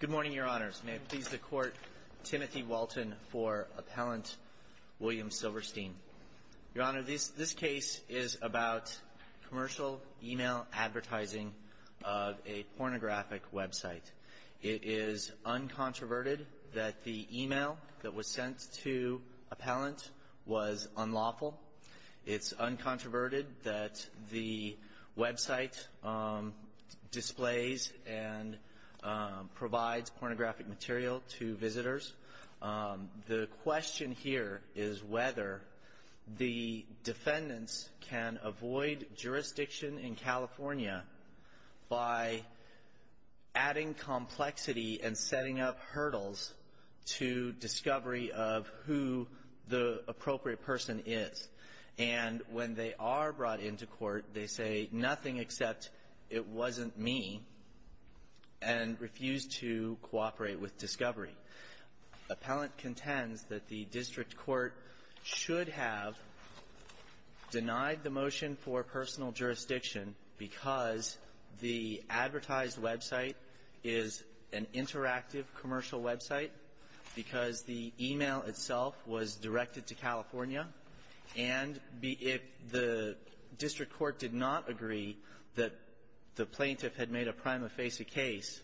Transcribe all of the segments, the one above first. Good morning, Your Honors. May it please the Court, Timothy Walton for Appellant William Silverstein. Your Honor, this case is about commercial email advertising of a pornographic website. It is uncontroverted that the email that was sent to Appellant was unlawful. It's uncontroverted that the website displays and provides pornographic material to visitors. The question here is whether the defendants can avoid jurisdiction in California by adding complexity and setting up hurdles to discovery of who the appropriate person is. And when they are brought into court, they say nothing except, it wasn't me, and refuse to cooperate with discovery. Appellant contends that the district court should have denied the motion for personal jurisdiction because the advertised website is an interactive commercial website because the email itself was directed to California, and if the district court did not agree that the plaintiff had made a prima facie case,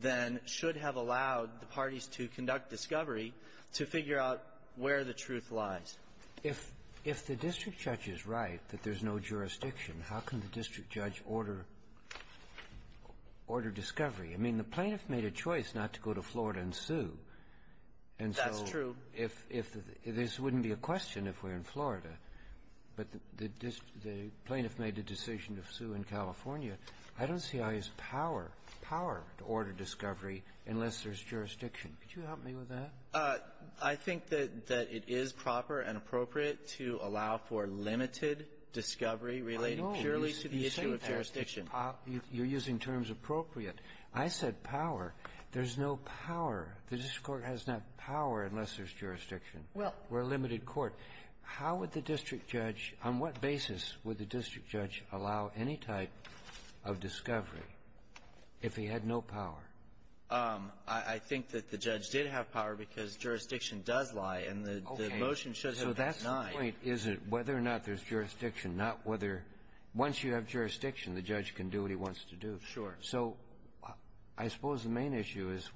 then should have allowed the parties to conduct discovery to figure out where the truth lies. If the district judge is right that there's no jurisdiction, how can the district judge order discovery? I mean, the plaintiff made a choice not to go to Florida and sue. That's true. And so if this wouldn't be a question if we're in Florida, but the plaintiff made a decision to sue in California, I don't see how he has power, power to order discovery unless there's jurisdiction. Could you help me with that? I think that it is proper and appropriate to allow for limited discovery relating purely to the issue of jurisdiction. I know. You're saying that. You're using terms appropriate. I said power. There's no power. The district court has not power unless there's jurisdiction. Well. We're a limited court. How would the district judge, on what basis would the district judge allow any type of discovery if he had no power? I think that the judge did have power because jurisdiction does lie, and the motion should have been denied. Okay. So that's the point, is it whether or not there's jurisdiction, not whether once you have jurisdiction, the judge can do what he wants to do. Sure. So I suppose the main issue is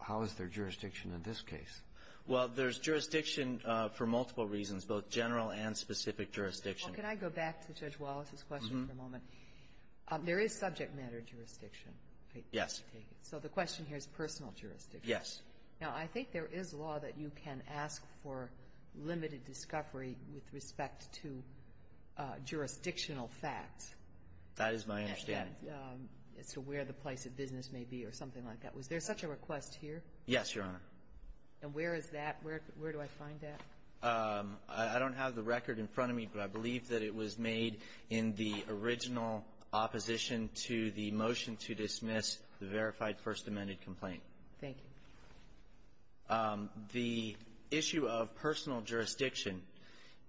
how is there jurisdiction in this case? Well, there's jurisdiction for multiple reasons, both general and specific jurisdiction. Well, can I go back to Judge Wallace's question for a moment? There is subject matter jurisdiction. Yes. So the question here is personal jurisdiction. Yes. Now, I think there is law that you can ask for limited discovery with respect to jurisdictional facts. That is my understanding. As to where the place of business may be or something like that. Was there such a request here? Yes, Your Honor. And where is that? Where do I find that? I don't have the record in front of me, but I believe that it was made in the original opposition to the motion to dismiss the verified First Amendment complaint. Thank you. The issue of personal jurisdiction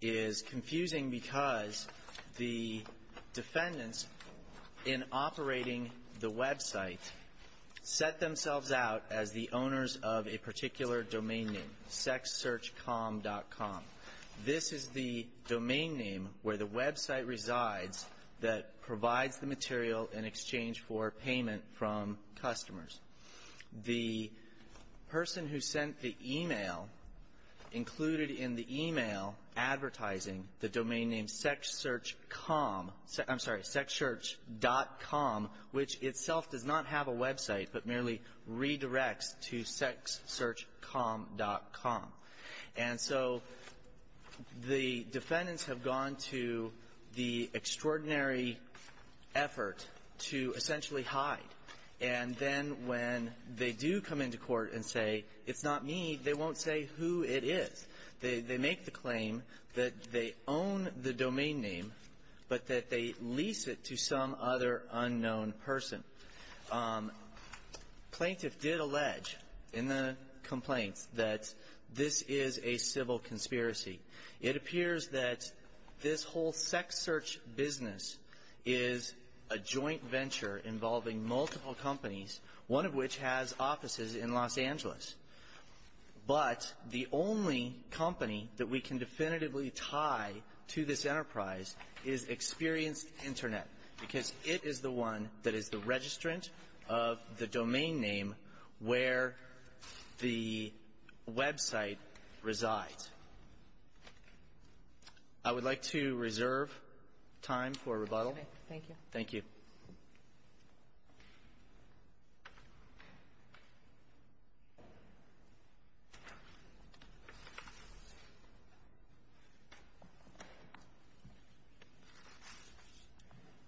is confusing because the defendants in operating the website set themselves out as the owners of a particular domain name, sexsearchcom.com. This is the domain name where the website resides that provides the material in exchange for payment from customers. The person who sent the e-mail included in the e-mail advertising the domain name sexsearchcom — I'm sorry, sexsearch.com, which itself does not have a website but merely redirects to sexsearchcom.com. And so the defendants have gone to the extraordinary effort to essentially hide, and then when they do come into court and say, it's not me, they won't say who it is. They make the claim that they own the domain name but that they lease it to some other unknown person. Plaintiff did allege in the complaints that this is a civil conspiracy. It appears that this whole sexsearch business is a joint venture involving multiple companies, one of which has offices in Los Angeles. But the only company that we can definitively tie to this enterprise is Experienced Internet because it is the one that is the registrant of the domain name where the website resides. I would like to reserve time for rebuttal. Thank you. Thank you. Roberts.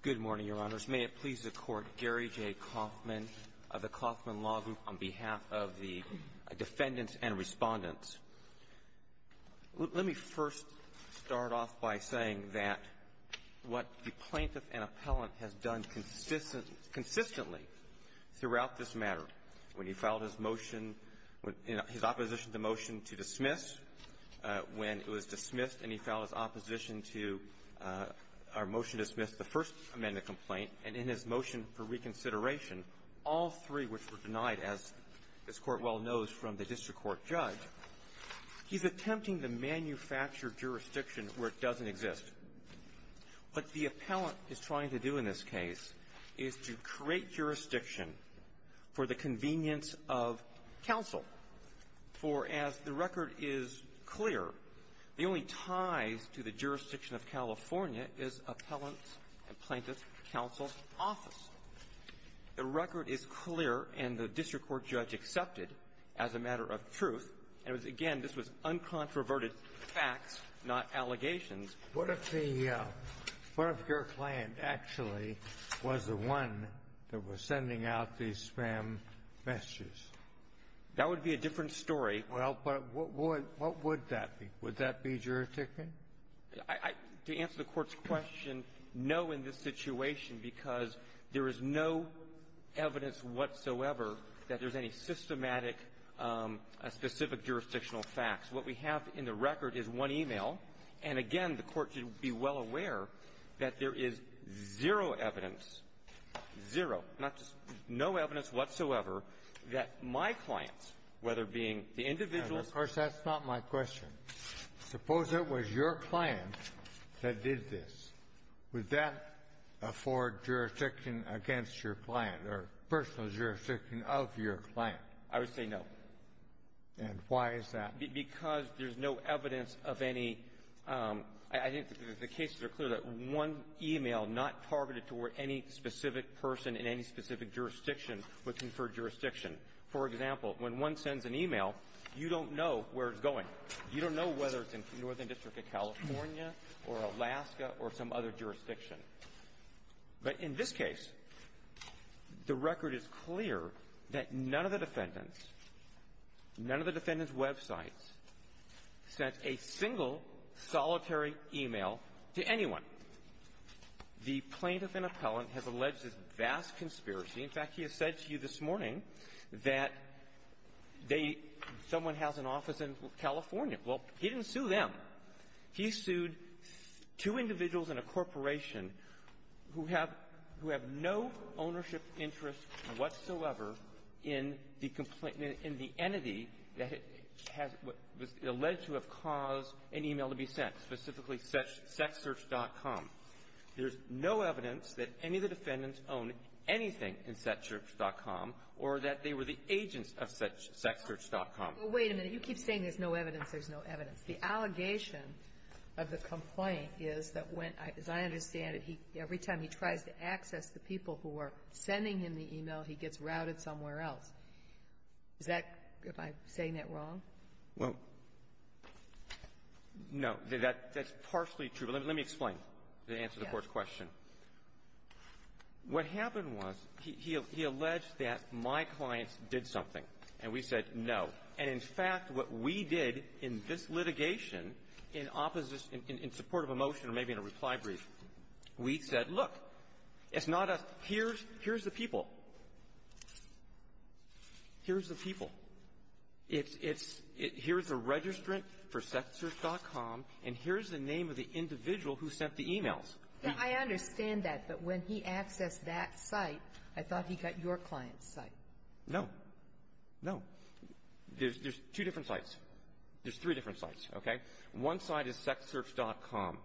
Good morning, Your Honors. May it please the Court, Gary J. Kauffman of the Kauffman Law Group on behalf of the defendants and Respondents. Let me first start off by saying that what the defendant has done consistently throughout this matter, when he filed his motion with his opposition to the motion to dismiss, when it was dismissed and he filed his opposition to our motion to dismiss the First Amendment complaint, and in his motion for reconsideration, all three which were denied, as this Court well knows, from the district court judge, he's attempting to manufacture jurisdiction where it doesn't exist. What the appellant is trying to do in this case is to create jurisdiction for the convenience of counsel. For as the record is clear, the only ties to the jurisdiction of California is appellant's and plaintiff's counsel's office. The record is clear and the district court judge accepted, as a matter of truth, and again, this was uncontroverted facts, not allegations. What if the – what if your client actually was the one that was sending out these spam messages? That would be a different story. Well, but what would that be? Would that be jurisdiction? To answer the Court's question, no in this situation, because there is no evidence whatsoever that there's any systematic specific jurisdictional facts. What we have in the record is one e-mail. And again, the Court should be well aware that there is zero evidence, zero, not just no evidence whatsoever, that my client, whether being the individual or the plaintiff… Of course, that's not my question. Suppose it was your client that did this. Would that afford jurisdiction against your client or personal jurisdiction of your client? I would say no. And why is that? Because there's no evidence of any – I think the cases are clear that one e-mail not targeted toward any specific person in any specific jurisdiction would confer jurisdiction. For example, when one sends an e-mail, you don't know where it's from, whether it's from California or Alaska or some other jurisdiction. But in this case, the record is clear that none of the defendants, none of the defendants' websites sent a single solitary e-mail to anyone. The plaintiff and appellant has alleged this vast conspiracy. In fact, he has said to you this morning that they – someone has an office in California. Well, he didn't sue them. He sued two individuals in a corporation who have – who have no ownership interest whatsoever in the complaint – in the entity that it has – was alleged to have caused an e-mail to be sent, specifically sexsearch.com. There's no evidence that any of the defendants owned anything in sexsearch.com or that they were the agents of sexsearch.com. But wait a minute. You keep saying there's no evidence. There's no evidence. The allegation of the complaint is that when – as I understand it, he – every time he tries to access the people who are sending him the e-mail, he gets routed somewhere else. Is that – am I saying that wrong? Well, no. That's partially true. But let me explain to answer the Court's question. What happened was he alleged that my clients did something, and we said no. And, in fact, what we did in this litigation, in opposition – in support of a motion or maybe in a reply brief, we said, look, it's not us. Here's – here's the people. Here's the people. It's – it's – here's the registrant for sexsearch.com, and here's the name of the individual who sent the e-mails. Now, I understand that. But when he accessed that site, I thought he got your client's site. No. No. There's two different sites. There's three different sites, okay? One site is sexsearch.com.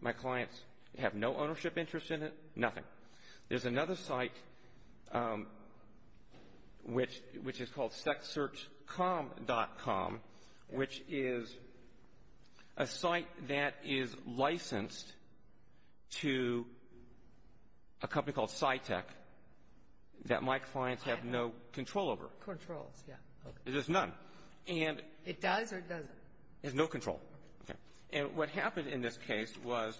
My clients have no ownership interest in it, nothing. There's another site which – which is called sexsearch.com, which is a site that is licensed to a company called Scitech that my clients have no control over. Controls, yeah. There's none. And – It does or it doesn't? It has no control. Okay. And what happened in this case was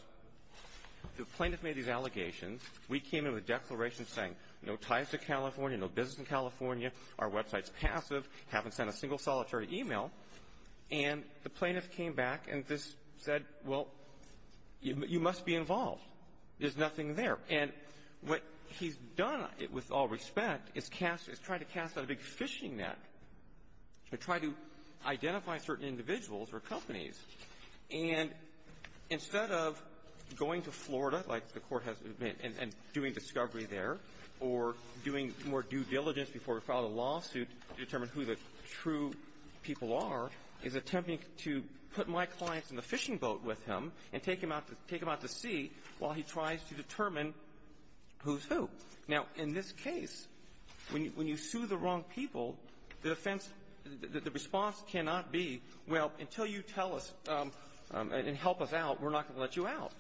the plaintiff made these allegations. We came in with declarations saying no ties to California, no business in California, our website's passive, haven't sent a single solitary e-mail. And the plaintiff came back and just said, well, you must be involved. There's nothing there. And what he's done, with all respect, is cast – is try to cast out a big fishing net to try to identify certain individuals or companies. And instead of going to Florida, like the Court has – and doing discovery there, or doing more due diligence before we file a lawsuit to determine who the true people are, is attempting to put my clients in the fishing boat with him and take him out to – take him out to sea while he tries to determine who's who. Now, in this case, when you sue the wrong people, the defense – the response cannot be, well, until you tell us and help us out, we're not going to let you out.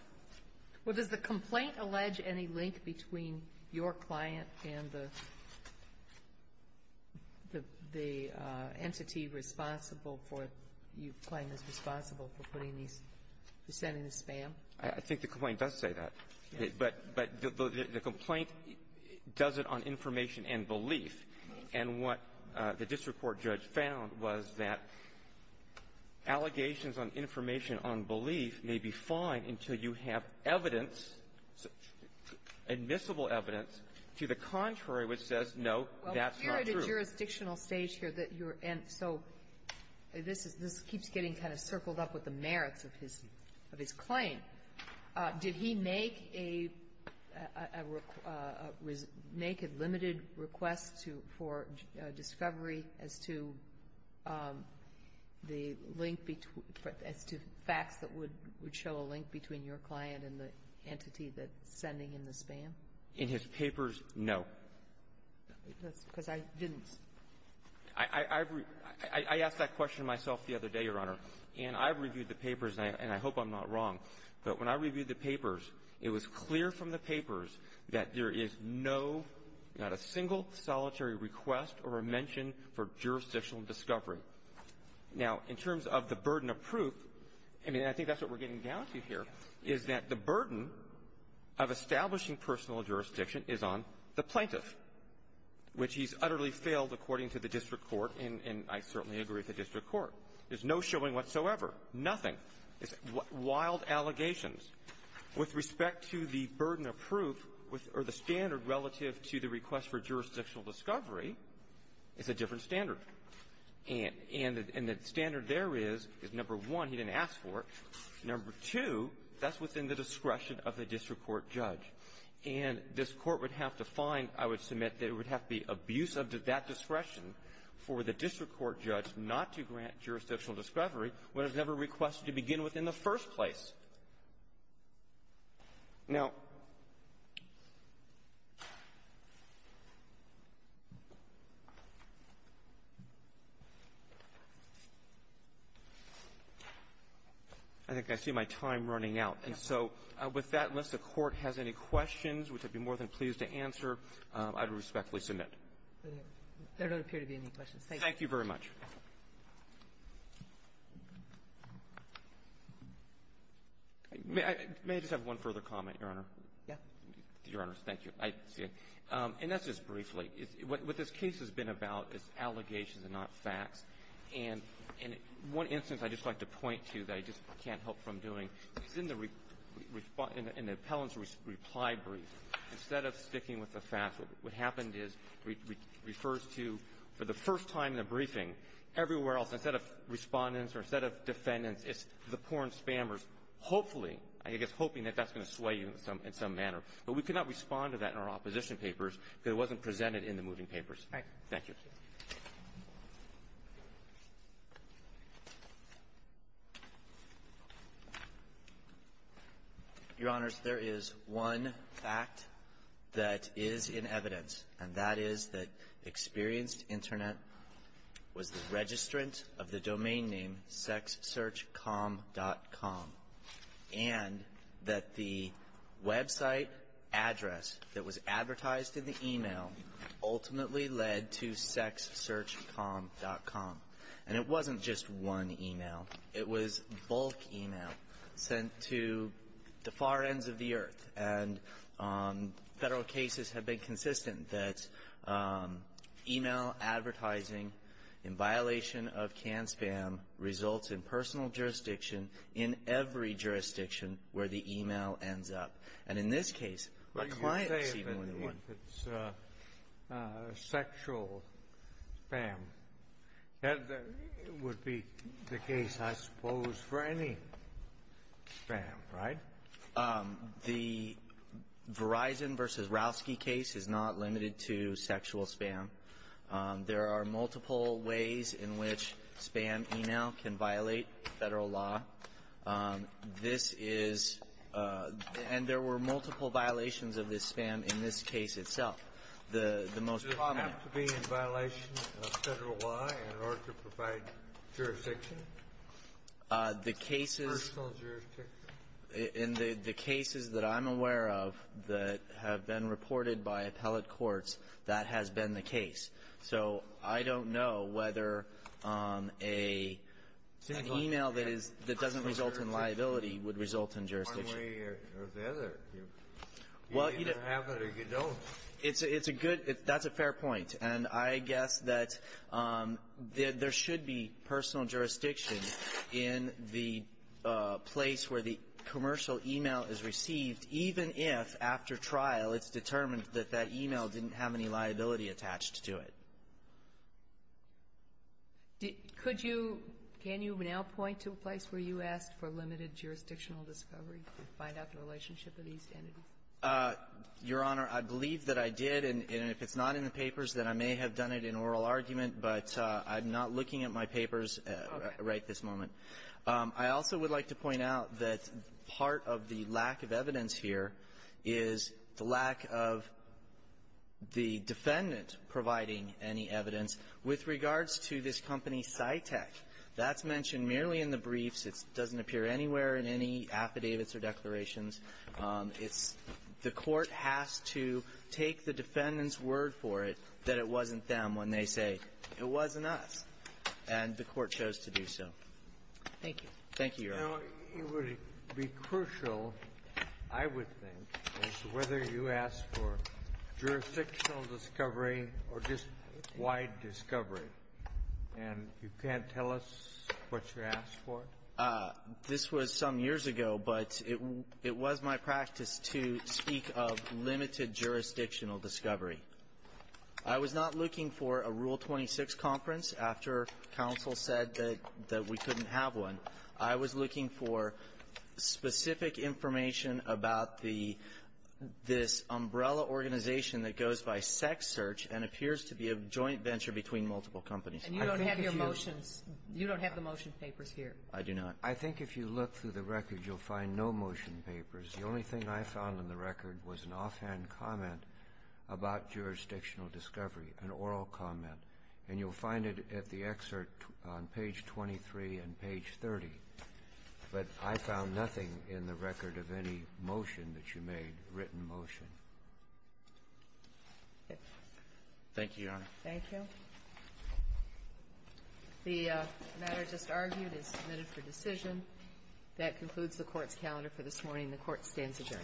Well, does the complaint allege any link between your client and the – the entity responsible for – you claim is responsible for putting these – sending this spam? I think the complaint does say that. But – but the complaint does it on information and belief. And what the district court judge found was that allegations on information and on belief may be fine until you have evidence, admissible evidence, to the contrary which says, no, that's not true. Well, we're at a jurisdictional stage here that you're – and so this is – this keeps getting kind of circled up with the merits of his – of his claim. Did he make a – make a limited request to – for discovery as to the link between – as to the facts that would – would show a link between your client and the entity that's sending in the spam? In his papers, no. That's because I didn't – I – I've – I asked that question myself the other day, Your Honor. And I've reviewed the papers, and I hope I'm not wrong. But when I reviewed the papers, it was clear from the papers that there is no – not a single solitary request or a mention for jurisdictional discovery. Now, in terms of the burden of proof, I mean, I think that's what we're getting down to here, is that the burden of establishing personal jurisdiction is on the plaintiff, which he's utterly failed according to the district court, and I certainly agree with the district court. There's no showing whatsoever, nothing. It's wild allegations. With respect to the burden of proof or the standard relative to the request for jurisdictional discovery, it's a different standard. And – and the standard there is, is, number one, he didn't ask for it. Number two, that's within the discretion of the district court judge. And this Court would have to find, I would submit, that it would have to be abusive to that discretion for the district court judge not to grant jurisdictional discovery when it's never requested to begin with in the first place. Now, I think I see my time running out. And so with that, unless the Court has any questions, which I'd be more than pleased to answer, I would respectfully submit. There don't appear to be any questions. Thank you. Thank you very much. May I just have one further comment, Your Honor? Yeah. Your Honors, thank you. I see it. And that's just briefly. What this case has been about is allegations and not facts. And in one instance, I'd just like to point to that I just can't help from doing, is in the – in the appellant's reply brief, instead of sticking with the facts, what happened is it refers to, for the first time in the briefing, everywhere else, instead of Respondents or instead of Defendants, it's the porn spammers, hopefully, I guess hoping that that's going to sway you in some manner. But we cannot respond to that in our opposition papers because it wasn't presented in the moving papers. Thank you. Thank you. Your Honors, there is one fact that is in evidence, and that is that Experienced Internet was the registrant of the domain name sexsearchcom.com, and that the website address that was advertised in the email ultimately led to sexsearchcom.com. And it wasn't just one email. It was bulk email sent to the far ends of the earth. And Federal cases have been consistent that email advertising in violation of CAN-SPAM results in personal jurisdiction in every jurisdiction where the email ends up. And in this case, my client received more than one. But you say it's sexual spam. That would be the case, I suppose, for any spam, right? The Verizon v. Rowski case is not limited to sexual spam. There are multiple ways in which spam email can violate Federal law. This is — and there were multiple violations of this spam in this case itself. The most prominent — Does it have to be in violation of Federal law in order to provide jurisdiction? The cases — Personal jurisdiction. In the cases that I'm aware of that have been reported by appellate courts, that has been the case. So I don't know whether an email that is — that doesn't result in liability would result in jurisdiction. One way or the other. You either have it or you don't. It's a good — that's a fair point. And I guess that there should be personal jurisdiction in the place where the commercial email is received, even if, after trial, it's determined that that email didn't have any liability attached to it. Could you — can you now point to a place where you asked for limited jurisdictional discovery to find out the relationship of these entities? Your Honor, I believe that I did. And if it's not in the papers, then I may have done it in oral argument. But I'm not looking at my papers right this moment. I also would like to point out that part of the lack of evidence here is the lack of the defendant providing any evidence with regards to this company, Cytec. That's mentioned merely in the briefs. It doesn't appear anywhere in any affidavits or declarations. It's — the Court has to take the defendant's word for it that it wasn't them when they say, it wasn't us. And the Court chose to do so. Thank you. Thank you, Your Honor. You know, it would be crucial, I would think, as to whether you asked for jurisdictional discovery or just wide discovery. And you can't tell us what you asked for? This was some years ago, but it was my practice to speak of limited jurisdictional discovery. I was not looking for a Rule 26 conference after counsel said that we couldn't have one. I was looking for specific information about the — this umbrella organization that goes by sex search and appears to be a joint venture between multiple companies. And you don't have your motions — you don't have the motion papers here. I do not. I think if you look through the record, you'll find no motion papers. The only thing I found in the record was an offhand comment about jurisdictional discovery, an oral comment. And you'll find it at the excerpt on page 23 and page 30. But I found nothing in the record of any motion that you made, written motion. Thank you, Your Honor. Thank you. The matter just argued is submitted for decision. That concludes the Court's calendar for this morning. The Court stands adjourned.